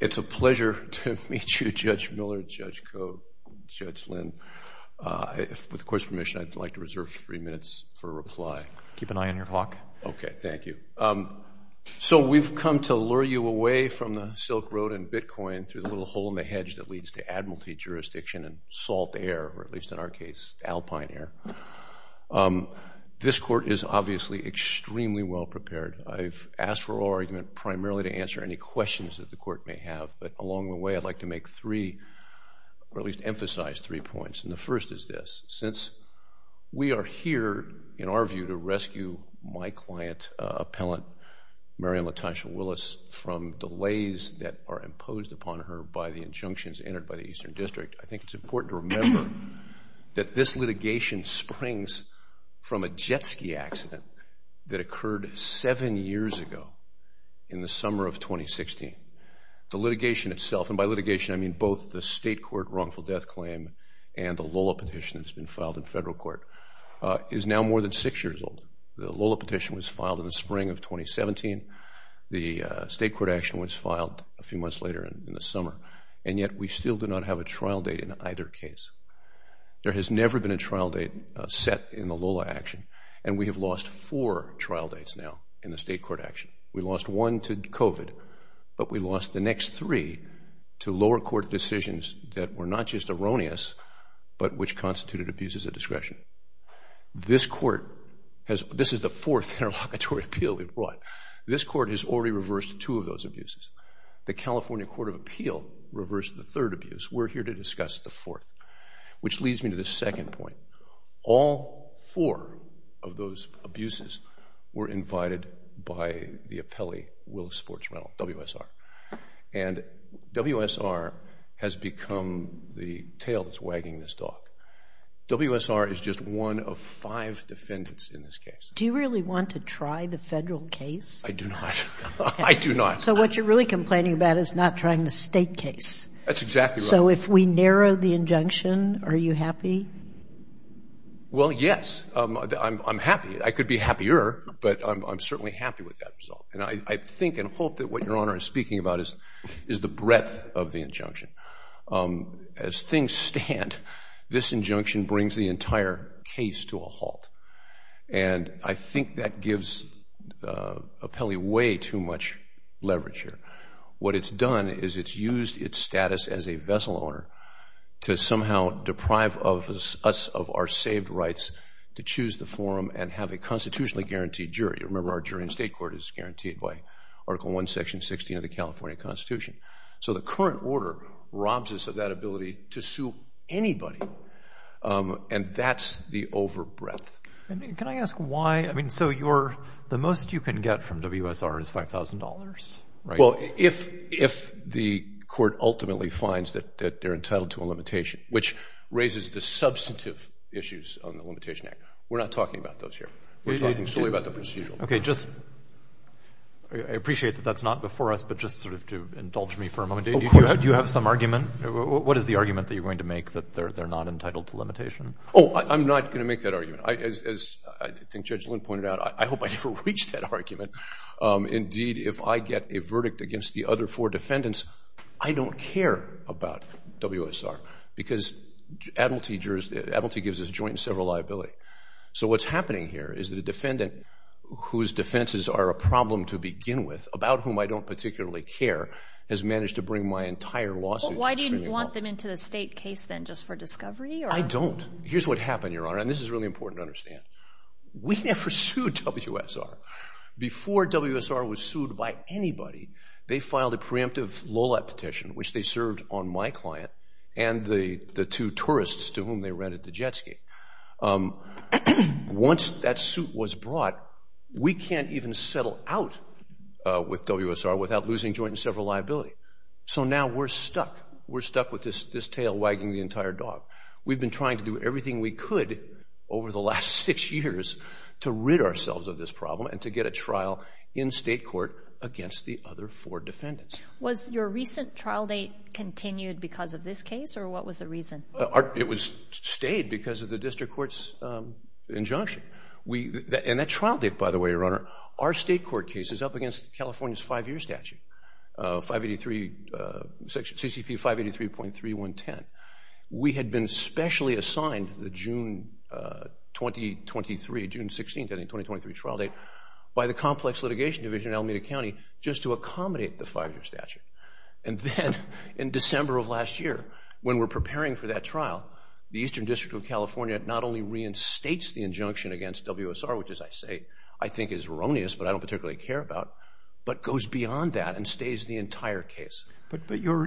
It's a pleasure to meet you, Judge Miller, Judge Cote, Judge Lin. With the Court's permission, I'd like to reserve three minutes for reply. Keep an eye on your clock. Okay, thank you. So we've come to lure you away from the Silk Road and Bitcoin through the little hole in the hedge that leads to Admiralty jurisdiction and salt air, or at least in our case, alpine air. This Court is obviously extremely well prepared. I've asked for oral argument primarily to answer any questions that the Court may have, but along the way, I'd like to make three or at least emphasize three points. And the first is this. Since we are here, in our view, to rescue my client, Appellant Marian LaTosha Willis, from delays that are imposed upon her by the injunctions entered by the Eastern District, I think it's important to remember that this litigation springs from a jet ski accident that occurred seven years ago in the summer of 2016. The litigation itself, and by litigation, I mean both the state court wrongful death claim and the Lola petition that's been filed in federal court, is now more than six years old. The Lola petition was filed in the spring of 2017. The state court action was filed a few months later in the summer. And yet, we still do not have a trial date in either case. There has never been a trial date set in the Lola action, and we have lost four trial dates now in the state court action. We lost one to COVID, but we lost the next three to lower court decisions that were not just erroneous, but which constituted abuses of discretion. This Court has, this is the fourth interlocutory appeal we've brought. This Court has already reversed two of those abuses. The California Court of Appeal reversed the third abuse. We're here to discuss the fourth, which leads me to the second point. All four of those abuses were invited by the appellee, Willis Fortz-Reynolds, WSR. And WSR has become the tail that's wagging this dog. WSR is just one of five defendants in this case. Do you really want to try the federal case? I do not. I do not. So what you're really complaining about is not trying the state case. That's exactly right. So if we narrow the injunction, are you happy? Well, yes. I'm happy. I could be happier, but I'm certainly happy with that result. And I think and hope that what Your Honor is speaking about is the breadth of the injunction. As things stand, this injunction brings the entire case to a halt. And I think that gives the appellee way too much leverage here. What it's done is it's used its status as a vessel owner to somehow deprive us of our saved rights to choose the forum and have a constitutionally guaranteed jury. Remember, our jury in state court is guaranteed by Article 1, Section 16 of the California Constitution. So the current order robs us of that ability to sue anybody. And that's the over breadth. Can I ask why? I mean, so the most you can get from WSR is $5,000, right? Well, if the court ultimately finds that they're entitled to a limitation, which raises the substantive issues on the Limitation Act. We're not talking about those here. We're talking solely about the procedural. Okay. Just I appreciate that that's not before us, but just sort of to indulge me for a moment. Of course. Do you have some argument? What is the argument that you're going to make that they're not entitled to limitation? Oh, I'm not going to make that argument. As I think Judge Lynn pointed out, I hope I never reach that argument. Indeed, if I get a verdict against the other four defendants, I don't care about WSR because admiralty gives us joint and several liability. So what's happening here is that a defendant whose defenses are a problem to begin with, about whom I don't particularly care, has managed to bring my entire lawsuit. Why do you want them into the state case then? Just for discovery? I don't. Here's what happened, Your Honor, and this is really important to understand. We never sued WSR. Before WSR was sued by anybody, they filed a preemptive LOLAP petition, which they served on my client and the two tourists to whom they rented the jet ski. Once that suit was brought, we can't even settle out with WSR without losing joint and We've been trying to do everything we could over the last six years to rid ourselves of this problem and to get a trial in state court against the other four defendants. Was your recent trial date continued because of this case, or what was the reason? It stayed because of the district court's injunction. And that trial date, by the way, Your Honor, our state court case is up against California's five-year statute, CCP 583.3110. We had been specially assigned the June 2023, June 16th, I think, 2023 trial date by the Complex Litigation Division in Alameda County just to accommodate the five-year statute. And then in December of last year, when we're preparing for that trial, the Eastern District of California not only reinstates the injunction against WSR, which, as I say, I think is erroneous, but I don't particularly care about, but goes beyond that and stays the entire case. But your,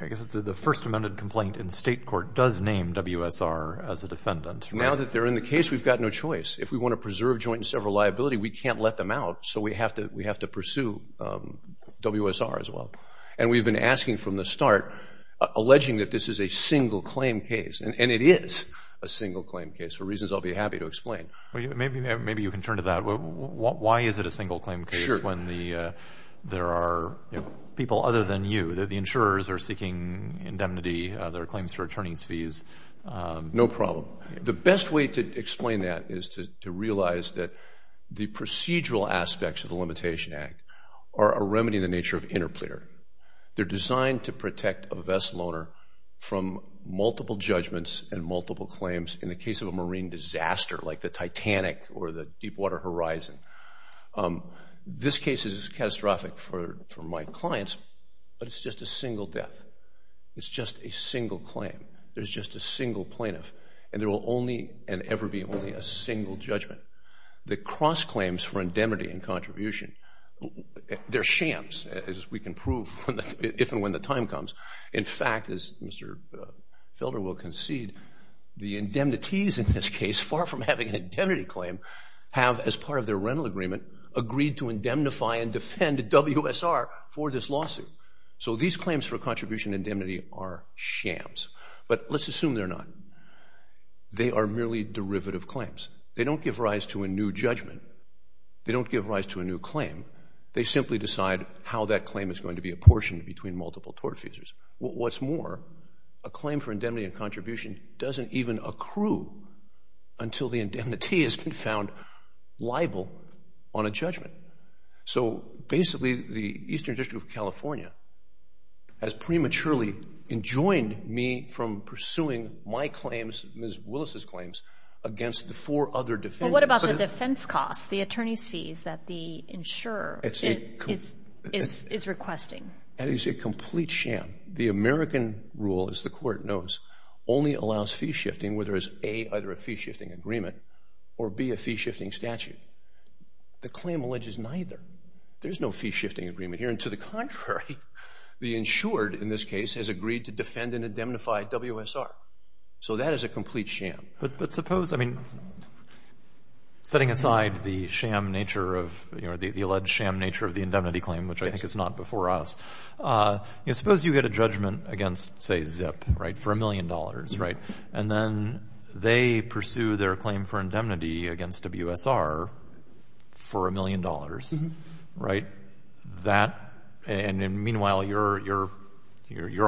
I guess it's the first amended complaint in state court does name WSR as a defendant. Now that they're in the case, we've got no choice. If we want to preserve joint and several liability, we can't let them out. So we have to pursue WSR as well. And we've been asking from the start, alleging that this is a single claim case. And it is a single claim case for reasons I'll be happy to explain. Maybe you can turn to that. Why is it a single claim case when there are people other than you, the insurers, are seeking indemnity, there are claims for attorney's fees? No problem. The best way to explain that is to realize that the procedural aspects of the Limitation Act are a remedy in the nature of interpleader. They're designed to protect a vessel owner from multiple judgments and multiple claims in the case of a marine disaster like the catastrophic for my clients. But it's just a single death. It's just a single claim. There's just a single plaintiff. And there will only and ever be only a single judgment. The cross claims for indemnity and contribution, they're shams, as we can prove if and when the time comes. In fact, as Mr. Felder will concede, the indemnities in this case, far from having an agreement, agreed to indemnify and defend WSR for this lawsuit. So these claims for contribution indemnity are shams. But let's assume they're not. They are merely derivative claims. They don't give rise to a new judgment. They don't give rise to a new claim. They simply decide how that claim is going to be apportioned between multiple tort feasors. What's more, a claim for indemnity and contribution doesn't even accrue until the indemnity has been found liable on a judgment. So basically, the Eastern District of California has prematurely enjoined me from pursuing my claims, Ms. Willis's claims, against the four other defendants. What about the defense costs, the attorney's fees that the insurer is requesting? That is a complete sham. The American rule, as the court knows, only allows fee shifting where there is A, either a fee-shifting agreement, or B, a fee-shifting statute. The claim alleges neither. There is no fee-shifting agreement here. And to the contrary, the insured in this case has agreed to defend and indemnify WSR. So that is a complete sham. But suppose, I mean, setting aside the sham nature of, you know, the alleged sham nature of the indemnity claim, which I think is not before us, you know, suppose you get a judgment against, say, $1 million, right? And then they pursue their claim for indemnity against WSR for $1 million, right? And meanwhile, you're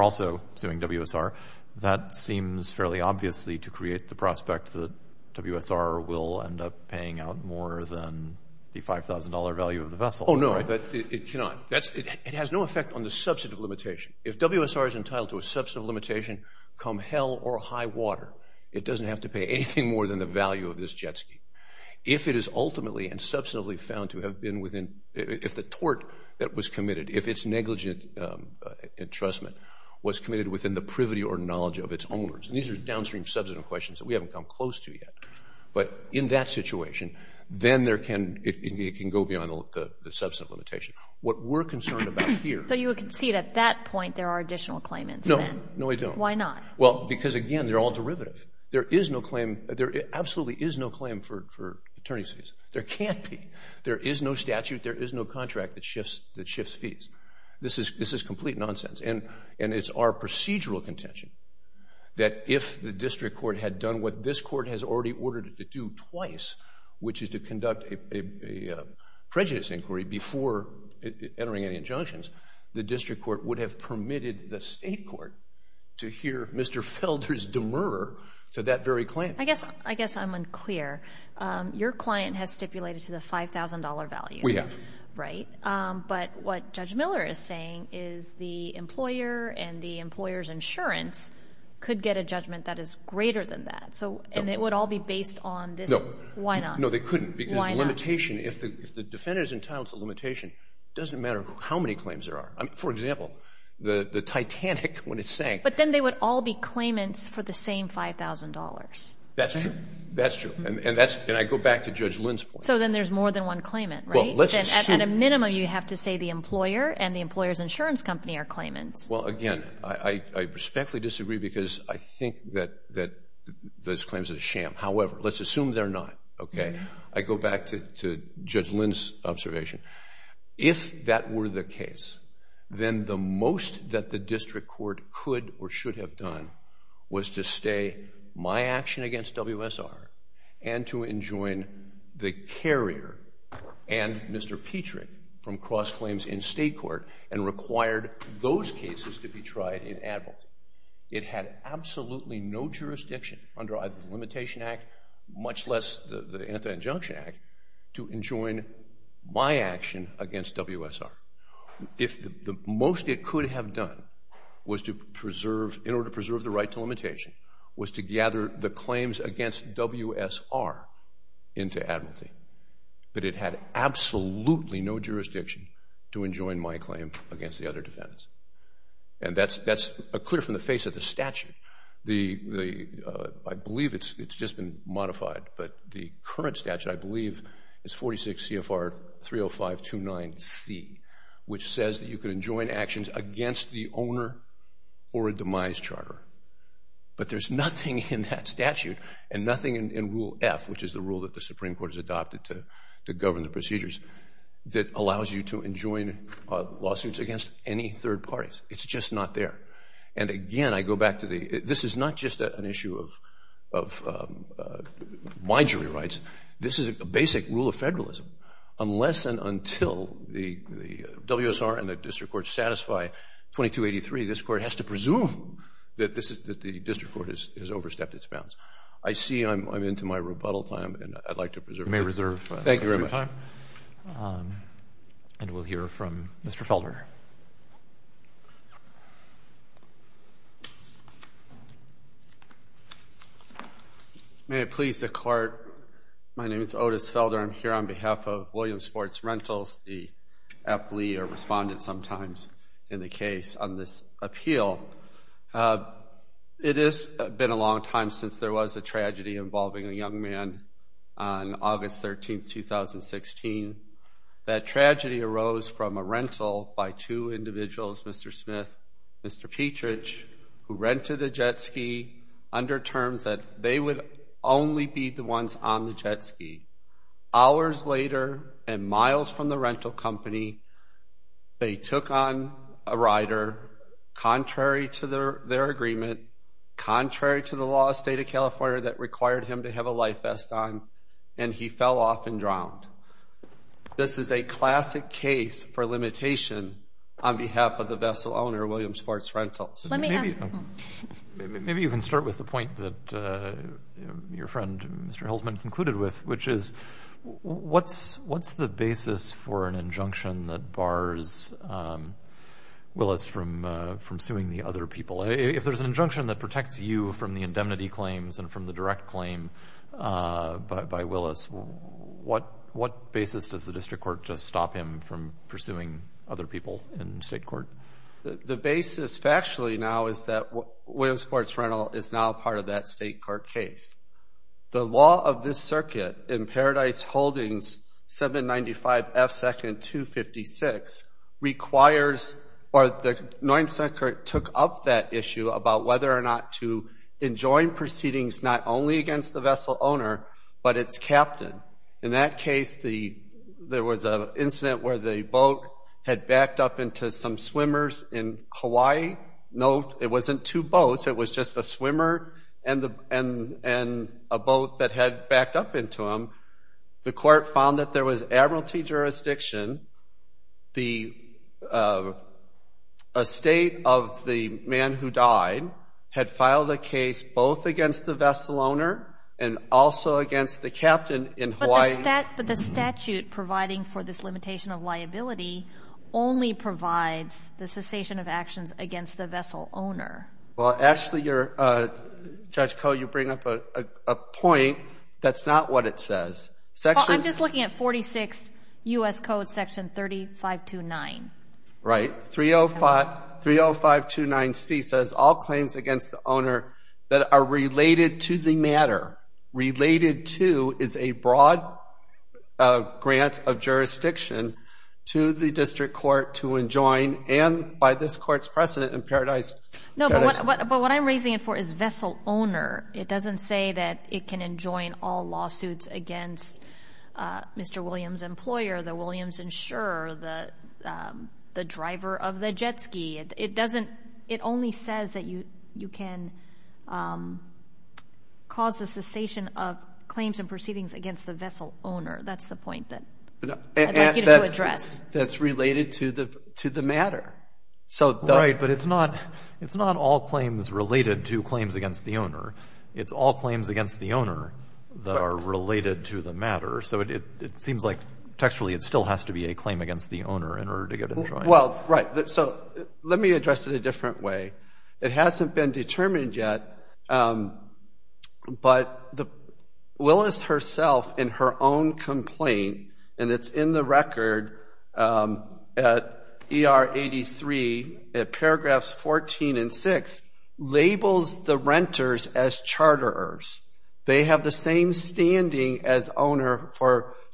also suing WSR. That seems fairly obviously to create the prospect that WSR will end up paying out more than the $5,000 value of the vessel. Oh, no. It cannot. It has no effect on the substantive limitation. If WSR is entitled to a substantive limitation, come hell or high water, it doesn't have to pay anything more than the value of this jet ski. If it is ultimately and substantively found to have been within, if the tort that was committed, if its negligent entrustment was committed within the privity or knowledge of its owners, and these are downstream substantive questions that we haven't come close to yet, but in that situation, then there can, it can go beyond the substantive limitation. What we're concerned about here... So you would concede at that point, there are additional claimants then? No, no, I don't. Why not? Well, because again, they're all derivative. There is no claim. There absolutely is no claim for attorney's fees. There can't be. There is no statute. There is no contract that shifts fees. This is complete nonsense. And it's our procedural contention that if the district court had done what this court has already ordered to do twice, which is to conduct a prejudice inquiry before entering any injunctions, the district court would have permitted the state court to hear Mr. Felder's demur to that very claim. I guess I'm unclear. Your client has stipulated to the $5,000 value. We have. Right. But what Judge Miller is saying is the employer and the employer's insurance could get a judgment that is greater than that. So, and it would all be based on this. No. Why not? No, they couldn't because the limitation, if the defendant is entitled to limitation, it doesn't matter how many claims there are. I mean, for example, the Titanic when it sank. But then they would all be claimants for the same $5,000. That's true. That's true. And that's, and I go back to Judge Lynn's point. So then there's more than one claimant, right? At a minimum, you have to say the employer and the employer's insurance company are claimants. Well, again, I respectfully disagree because I think that those claims are a sham. However, let's assume they're not. Okay. I go back to Judge Lynn's observation. If that were the case, then the most that the district court could or should have done was to stay my action against WSR and to enjoin the carrier and Mr. Petrie from cross claims in state court and required those cases to be tried in Admiralty. It had absolutely no jurisdiction under either the Limitation Act, much less the Anti-Injunction Act, to enjoin my action against WSR. If the most it could have done was to preserve, in order to preserve the right to limitation, was to gather the claims against WSR into Admiralty, but it had absolutely no jurisdiction to enjoin my claim against the other defendants. And that's clear from the face of the statute. I believe it's just been modified, but the current statute, I believe, is 46 CFR 30529C, which says that you can enjoin actions against the owner or a demise charter. But there's nothing in that statute and nothing in Rule F, which is the rule that the Supreme Court has adopted to allow you to enjoin lawsuits against any third parties. It's just not there. And again, I go back to the, this is not just an issue of my jury rights. This is a basic rule of federalism. Unless and until the WSR and the district court satisfy 2283, this court has to presume that the district court has overstepped its bounds. I see I'm into my rebuttal time, and I'd like to preserve my time. Thank you very much. And we'll hear from Mr. Felder. May it please the court. My name is Otis Felder. I'm here on behalf of Williams Sports Rentals, the athlete or respondent sometimes in the case on this appeal. It has been a long time since there was a tragedy involving a young man on August 13, 2016. That tragedy arose from a rental by two individuals, Mr. Smith, Mr. Petrich, who rented a jet ski under terms that they would only be the ones on the jet ski. Hours later and miles from the rental company, they took on a rider, contrary to their agreement, contrary to the law of the state of California that required him to have a life vest on, and he fell off and drowned. This is a classic case for limitation on behalf of the vessel owner, Williams Sports Rentals. Maybe you can start with the point that your friend, Mr. Hilsman, concluded with, which is what's the basis for an injunction that bars Willis from suing the other people? If there's an injunction that protects you from the indemnity claims and from the direct claim by Willis, what basis does the district court just stop him from pursuing other people in state court? The basis factually now is that Williams Sports Rental is now part of that state court case. The law of this circuit in Paradise Holdings, 795 F. 2nd. 256, requires or the 9th Circuit took up that issue about whether or not to enjoin proceedings not only against the vessel owner, but its captain. In that case, there was an incident where the boat had backed up into some swimmers in Hawaii. No, it wasn't two boats. It was just a swimmer and a boat that had backed up into them. The court found that there was admiralty jurisdiction. The estate of the man who died had filed a case both against the vessel owner and also against the captain in Hawaii. But the statute providing for this limitation of liability only provides the cessation of actions against the vessel owner. Well, Ashley, you're, Judge Koh, you bring up a point that's not what it says. I'm just looking at 46 U.S. Code section 3529. Right. 30529C says all claims against the owner that are related to the matter, related to, is a broad grant of jurisdiction to the district court to enjoin and by this court's precedent in Paradise. No, but what I'm raising it for is vessel owner. It doesn't say that it can enjoin all lawsuits against Mr. Williams' employer, the Williams insurer, the driver of the jet ski. It only says that you can cause the cessation of claims and proceedings against the vessel owner. That's the point that I'd like you to address. That's related to the matter. Right, but it's not all claims related to claims against the owner. It's all claims against the owner that are related to the matter. So it seems like textually it still has to be a claim against the owner in order to address it a different way. It hasn't been determined yet, but Willis herself in her own complaint, and it's in the record at ER 83 at paragraphs 14 and 6, labels the renters as charterers. They have the same standing as owner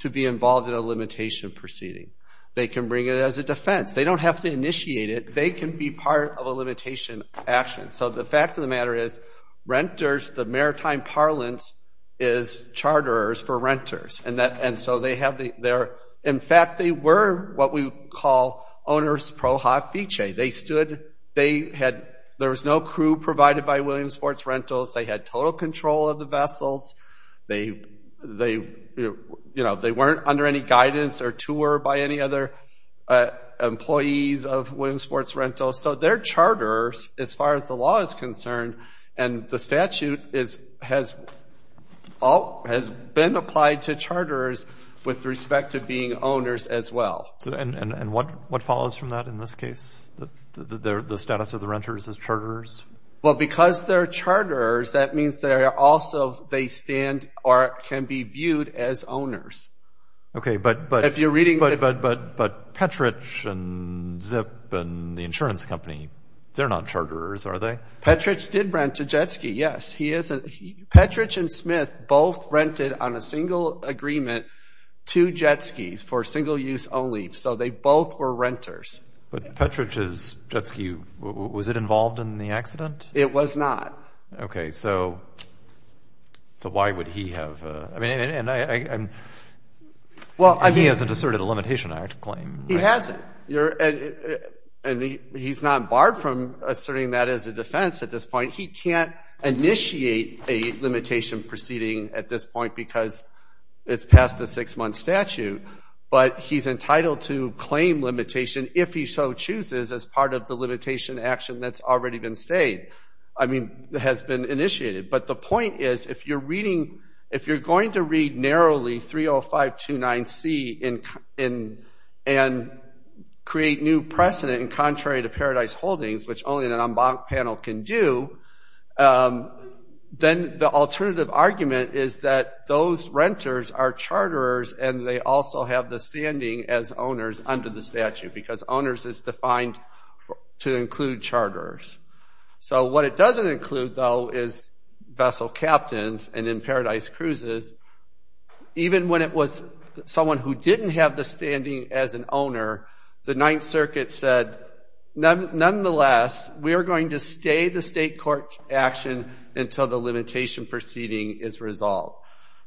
to be involved in a limitation proceeding. They can bring it as a defense. They don't have to initiate it. They can be part of a limitation action. So the fact of the matter is renters, the maritime parlance, is charterers for renters. In fact, they were what we call owners pro hofiche. They stood, there was no crew provided by Williamsports Rentals. They had total control of the vessels. They weren't under any guidance or tour by any other employees of Williamsports Rentals. So they're charterers as far as the law is concerned, and the statute has been applied to charterers with respect to being owners as well. And what follows from that in this case? The status of the renters as charterers? Well, because they're charterers, that means they also stand or can be viewed as owners. Okay, but Petrich and Zip and the insurance company, they're not charterers, are they? Petrich did rent to Jet Ski, yes. Petrich and Smith both rented on a single agreement two Jet Skis for single use only. So they both were renters. But Petrich's Jet Ski, was it involved in the accident? It was not. Okay, so why would he have? And he hasn't asserted a Limitation Act claim. He hasn't. And he's not barred from asserting that as a defense at this point. He can't initiate a limitation proceeding at this point because it's past the six-month statute, but he's entitled to claim limitation if he so chooses as part of the limitation action that's already been stayed. I mean, that has been initiated. But the point is, if you're reading, if you're going to read narrowly 30529C and create new precedent in contrary to Paradise Holdings, which only an en banc panel can do, then the alternative argument is that those renters are charterers and they also have the standing as owners under the statute because owners is defined to include charters. So what it doesn't include though is vessel captains and in Paradise Cruises, even when it was someone who didn't have the standing as an owner, the Ninth Circuit said, nonetheless, we are going to stay the state court action until the limitation proceeding is resolved.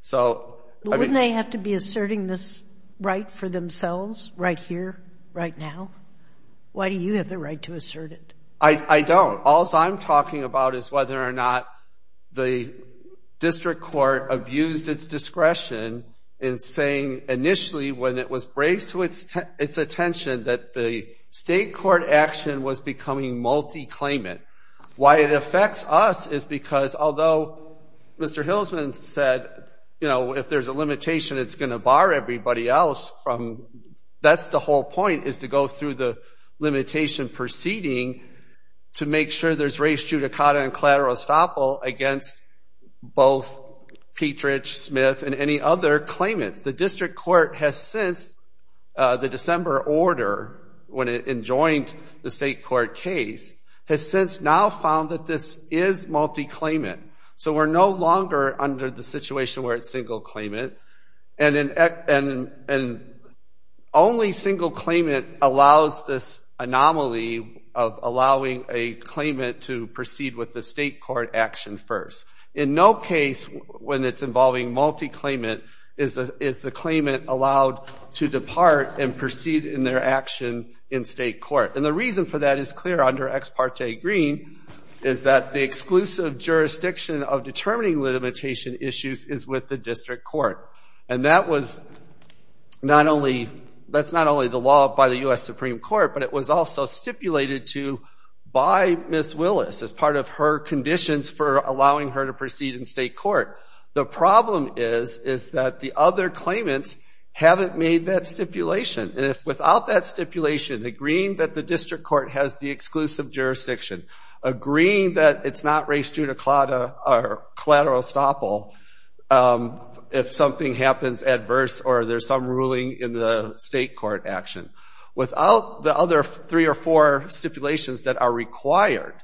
So wouldn't they have to be asserting this right for themselves right here, right now? Why do you have the right to assert it? I don't. All I'm talking about is whether or not the district court abused its discretion in saying initially when it was braced to its attention that the state court action was becoming multi-claimant. Why it affects us is because although Mr. Hilsman said, you know, if there's a limitation, it's going to bar everybody else from, that's the whole point, is to go through the limitation proceeding to make sure there's res judicata and collateral estoppel against both Petrich, Smith, and any other claimants. The district court has since, the December order when it enjoined the state court case, has since now found that this is multi-claimant. So we're no longer under the situation where it's single claimant. And only single claimant allows this anomaly of allowing a claimant to proceed with the state court action first. In no case when it's involving multi-claimant is the claimant allowed to depart and proceed in their action in state court. And the reason for that is clear under Ex parte Green is that the exclusive jurisdiction of determining limitation issues is with the district court. And that was not only, that's not only the law by the U.S. Supreme Court, but it was also stipulated to by Ms. Willis as part of her conditions for allowing her to proceed in state court. The problem is, is that the other claimants haven't made that stipulation. And if without that stipulation, agreeing that the district court has the exclusive jurisdiction, agreeing that it's not a collateral estoppel if something happens adverse or there's some ruling in the state court action. Without the other three or four stipulations that are required,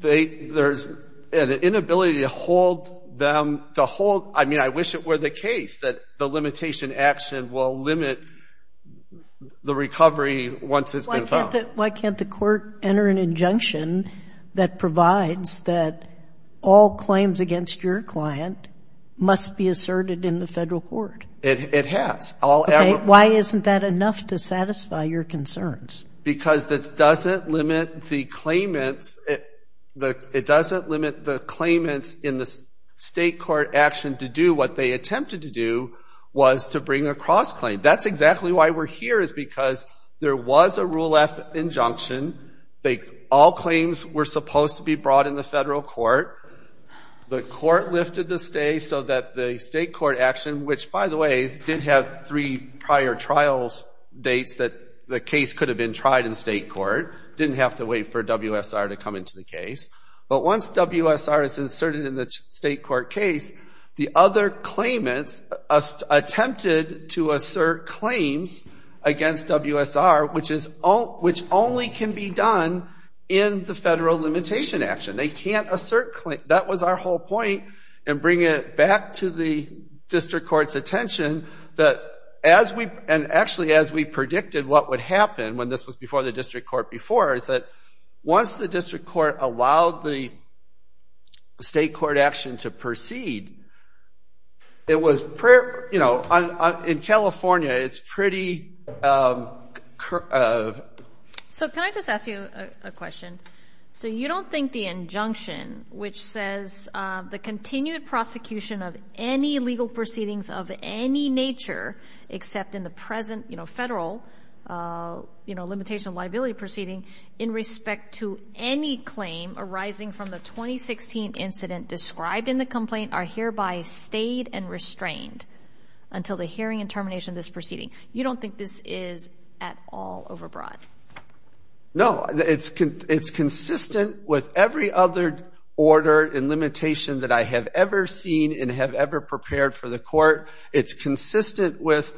there's an inability to hold them, to hold, I mean, I wish it were the case that the limitation action will limit the recovery once it's been found. Why can't the court enter an injunction that provides that all claims against your client must be asserted in the federal court? It has. Okay, why isn't that enough to satisfy your concerns? Because it doesn't limit the claimants, it doesn't limit the claimants in the state court action to do what they were here is because there was a Rule F injunction. All claims were supposed to be brought in the federal court. The court lifted the stay so that the state court action, which by the way, did have three prior trials dates that the case could have been tried in state court, didn't have to wait for WSR to come into the case. But once WSR is inserted in the state court case, the other claimants attempted to assert claims against WSR, which only can be done in the federal limitation action. They can't assert claims. That was our whole point, and bringing it back to the district court's attention that as we, and actually as we predicted what would happen when this was before the district court before, is that once the district court allowed the state court action to proceed, it was, you know, in California, it's pretty... So can I just ask you a question? So you don't think the injunction, which says the continued prosecution of any legal proceedings of any nature, except in the present, you know, federal, you know, limitation of liability proceeding in respect to any claim arising from the 2016 incident described in the complaint, are hereby stayed and restrained until the hearing and termination of this proceeding? You don't think this is at all overbroad? No, it's consistent with every other order and limitation that I have ever seen and have ever prepared for the court. It's consistent with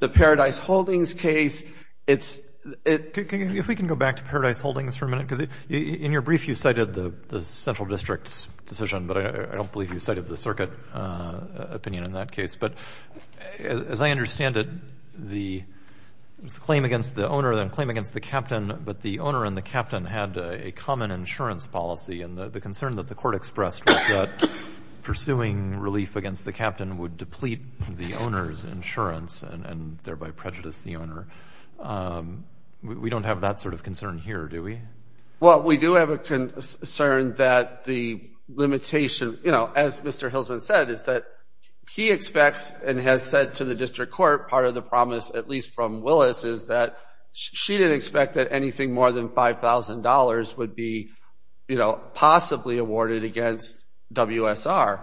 the Paradise Holdings case. It's... If we can go back to Paradise Holdings for a minute, because in your brief you cited the central district's decision, but I don't believe you cited the circuit opinion in that case. But as I understand it, the claim against the owner and the claim against the captain, but the owner and the captain had a common insurance policy. And the concern that the court expressed was that pursuing relief against the captain would deplete the owner's insurance and thereby prejudice the claimant. We don't have that sort of concern here, do we? Well, we do have a concern that the limitation, you know, as Mr. Hilsman said, is that he expects and has said to the district court, part of the promise, at least from Willis, is that she didn't expect that anything more than $5,000 would be, you know, possibly awarded against WSR.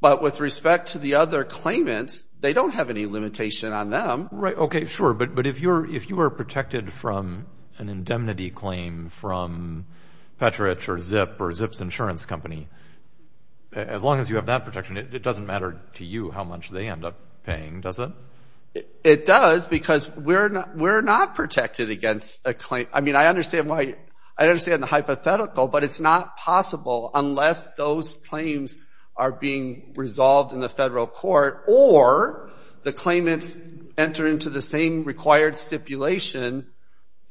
But with respect to the other claimants, they don't have any limitation on them. Right. Okay. Sure. But if you are protected from an indemnity claim from Petrich or Zip or Zip's insurance company, as long as you have that protection, it doesn't matter to you how much they end up paying, does it? It does, because we're not protected against a claim. I mean, I understand why... I understand the hypothetical, but it's not possible unless those claims are being resolved in the federal court or the claimants enter into the same required stipulation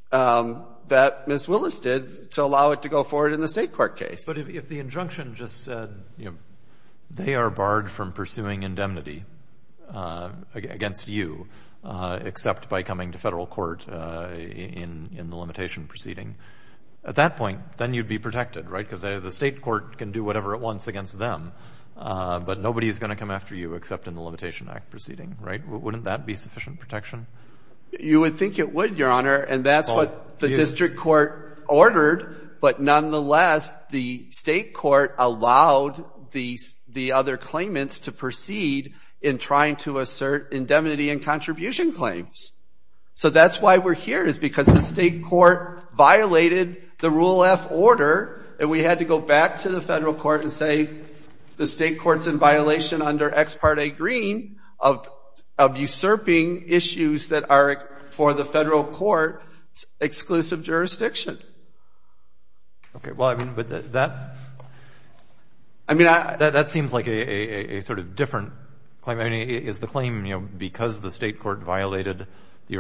that Ms. Willis did to allow it to go forward in the state court case. But if the injunction just said, you know, they are barred from pursuing indemnity against you, except by coming to federal court in the limitation proceeding, at that point, then you'd be protected, right? Because the state court can do whatever it wants against them, but nobody is going to come after you except in the Limitation Act proceeding, right? Wouldn't that be sufficient protection? You would think it would, Your Honor, and that's what the district court ordered. But nonetheless, the state court allowed the other claimants to violate the Rule F order, and we had to go back to the federal court and say, the state court's in violation under ex parte green of usurping issues that are for the federal court's exclusive jurisdiction. Okay. Well, I mean, but that... I mean, that seems like a sort of different claim. I mean, is the claim, you know, because the state court violated the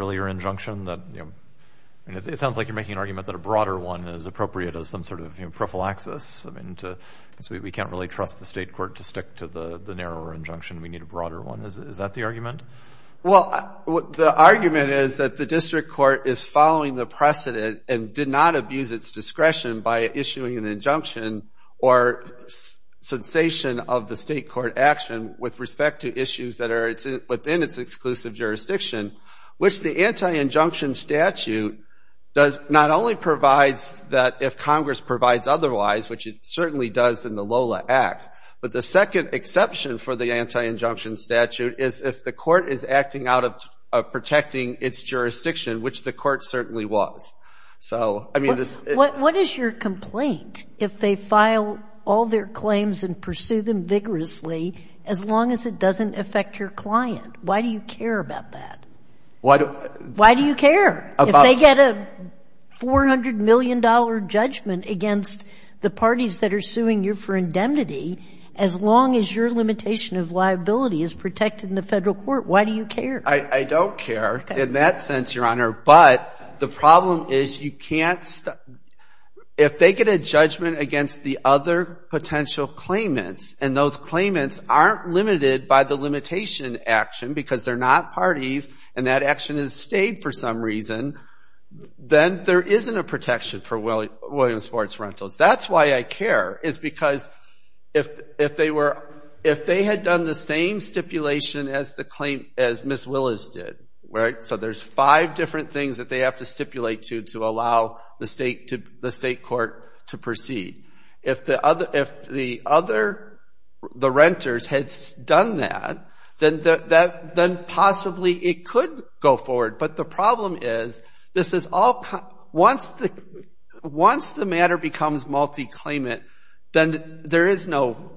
Well, the argument is that the district court is following the precedent and did not abuse its discretion by issuing an injunction or cessation of the state court action with respect to issues that are within its exclusive jurisdiction, which the anti-injunction statute does not only provides that if Congress provides otherwise, which it certainly does in the Lola Act, but the second exception for the anti-injunction statute is if the court is acting out of protecting its jurisdiction, which the court certainly was. So, I mean, this... But what is your complaint if they file all their claims and pursue them vigorously as long as it doesn't affect your client? Why do you care about that? Why do... Why do you care? If they get a $400 million judgment against the parties that are suing you for indemnity, as long as your limitation of liability is protected in the I don't care in that sense, Your Honor, but the problem is you can't... If they get a judgment against the other potential claimants and those claimants aren't limited by the limitation action because they're not parties and that action has stayed for some reason, then there isn't a protection for Williams-Ford's rentals. That's why I care, is because if they were... If they had done the same stipulation as the claim... As Ms. Willis did, right? So, there's five different things that they have to stipulate to to allow the state to... The state court to proceed. If the other... If the other... The renters had done that, then possibly it could go forward. But the problem is, this is all... Once the matter becomes multi-claimant, then there is no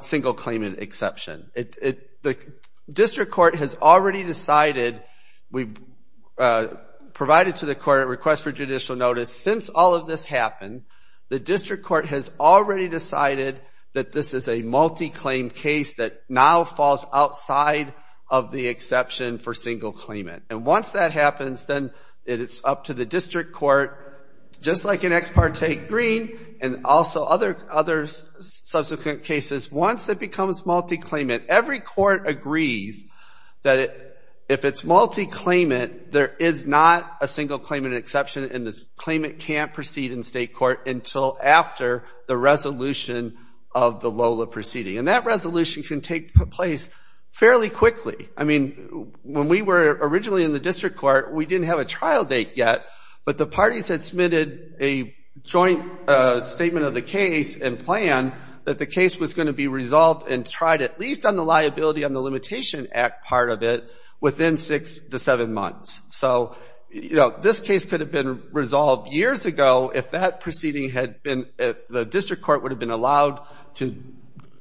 single claimant exception. The district court has already decided... We've provided to the court a request for judicial notice. Since all of this happened, the district court has already decided that this is a multi-claim case that now is outside of the exception for single claimant. And once that happens, then it is up to the district court, just like in Ex Parte Green and also other subsequent cases. Once it becomes multi-claimant, every court agrees that if it's multi-claimant, there is not a single claimant exception and this claimant can't proceed in state court until after the resolution of the LOLA proceeding. And that resolution can take place fairly quickly. I mean, when we were originally in the district court, we didn't have a trial date yet, but the parties had submitted a joint statement of the case and plan that the case was going to be resolved and tried, at least on the liability on the Limitation Act part of it, within six to seven months. So, you know, this case could have been resolved years ago if that proceeding had been... if the district court would have been allowed to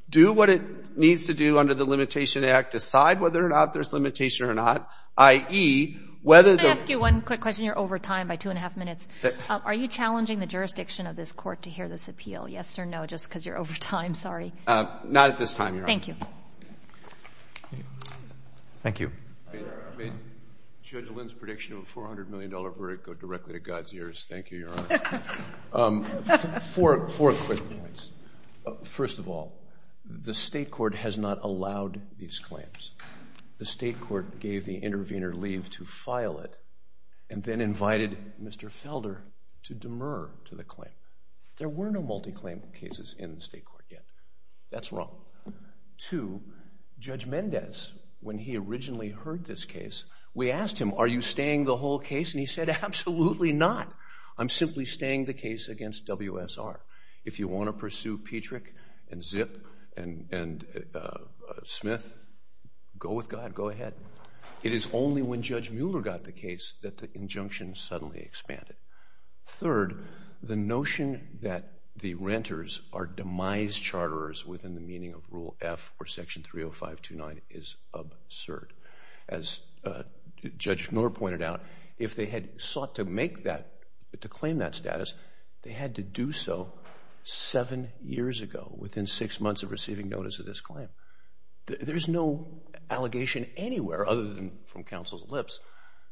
do what it needs to do under the Limitation Act, decide whether or not there's limitation or not, i.e. whether... Can I ask you one quick question? You're over time by two and a half minutes. Are you challenging the jurisdiction of this court to hear this appeal? Yes or no, just because you're over time. Sorry. Not at this time, Your Honor. Thank you. Thank you. May Judge Lynn's prediction of a $400 million verdict go directly to God's ears. Thank you, Your Honor. Four quick points. First of all, the state court has not allowed these claims. The state court gave the intervener leave to file it and then invited Mr. Felder to demur to the claim. There were no multi-claim cases in the state court yet. That's wrong. Two, Judge Mendez, when he originally heard this case, we asked him, are you staying the whole case? And he said, absolutely not. I'm simply staying the case against WSR. If you want to pursue Petrick and Zipp and Smith, go with God, go ahead. It is only when Judge Mueller got the case that the injunction suddenly expanded. Third, the notion that the renters are demise charterers within the meaning of Rule F or Section 30529 is absurd. As Judge Mueller pointed out, if they had sought to make that, to claim that status, they had to do so seven years ago, within six months of receiving notice of this claim. There's no allegation anywhere, other than from counsel's lips,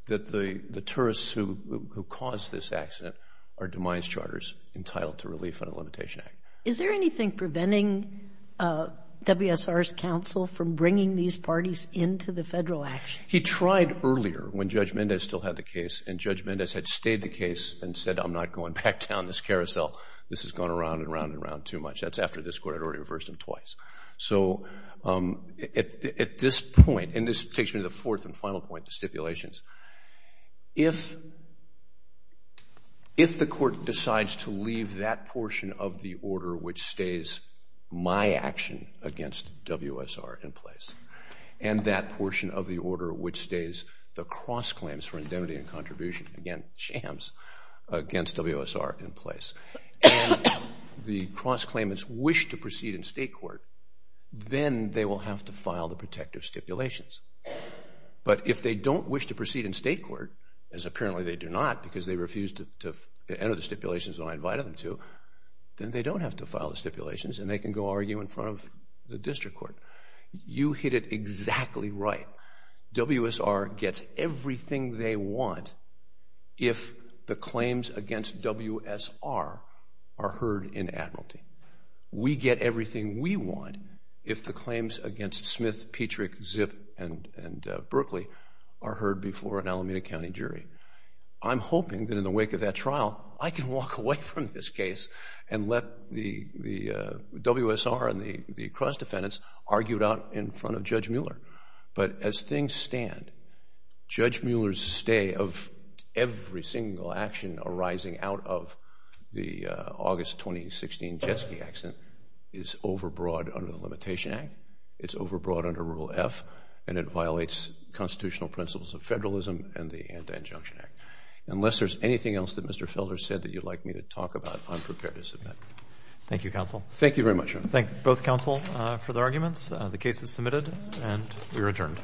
that the tourists who caused this accident are demise charters entitled to relief under the Limitation Act. Is there anything preventing WSR's counsel from bringing these parties into the federal action? He tried earlier, when Judge Mendez still had the case, and Judge Mendez had stayed the case and said, I'm not going back down this carousel. This has gone around and around and around too much. That's after this court had already reversed him twice. At this point, and this takes me to the fourth and final point, the stipulations, if the court decides to leave that portion of the order which stays my action against WSR in place, and that portion of the order which stays the cross claims for indemnity and contribution against WSR in place, and the cross claimants wish to proceed in state court, then they will have to file the protective stipulations. But if they don't wish to proceed in state court, as apparently they do not because they refused to enter the stipulations when I invited them to, then they don't have to file the stipulations and they can go argue in front of the district court. You hit it exactly right. WSR gets everything they want if the claims against WSR are heard in admiralty. We get everything we want if the claims against Smith, Petrick, Zipp, and Berkeley are heard before an Alameda County jury. I'm hoping that in the wake of that trial, I can walk away from this case and let the WSR and the cross defendants argue it out in front of Judge Mueller. But as things stand, Judge Mueller's stay of every single action arising out of the August 2016 Jet Ski Accident is overbroad under the Limitation Act. It's overbroad under Rule F, and it violates constitutional principles of federalism and the Anti-Injunction Act. Unless there's anything else that Mr. Felder said that you'd like me to talk about, I'm prepared to submit. Thank you, counsel. Thank you very much. Thank both counsel for the arguments. The case is submitted, and we are adjourned.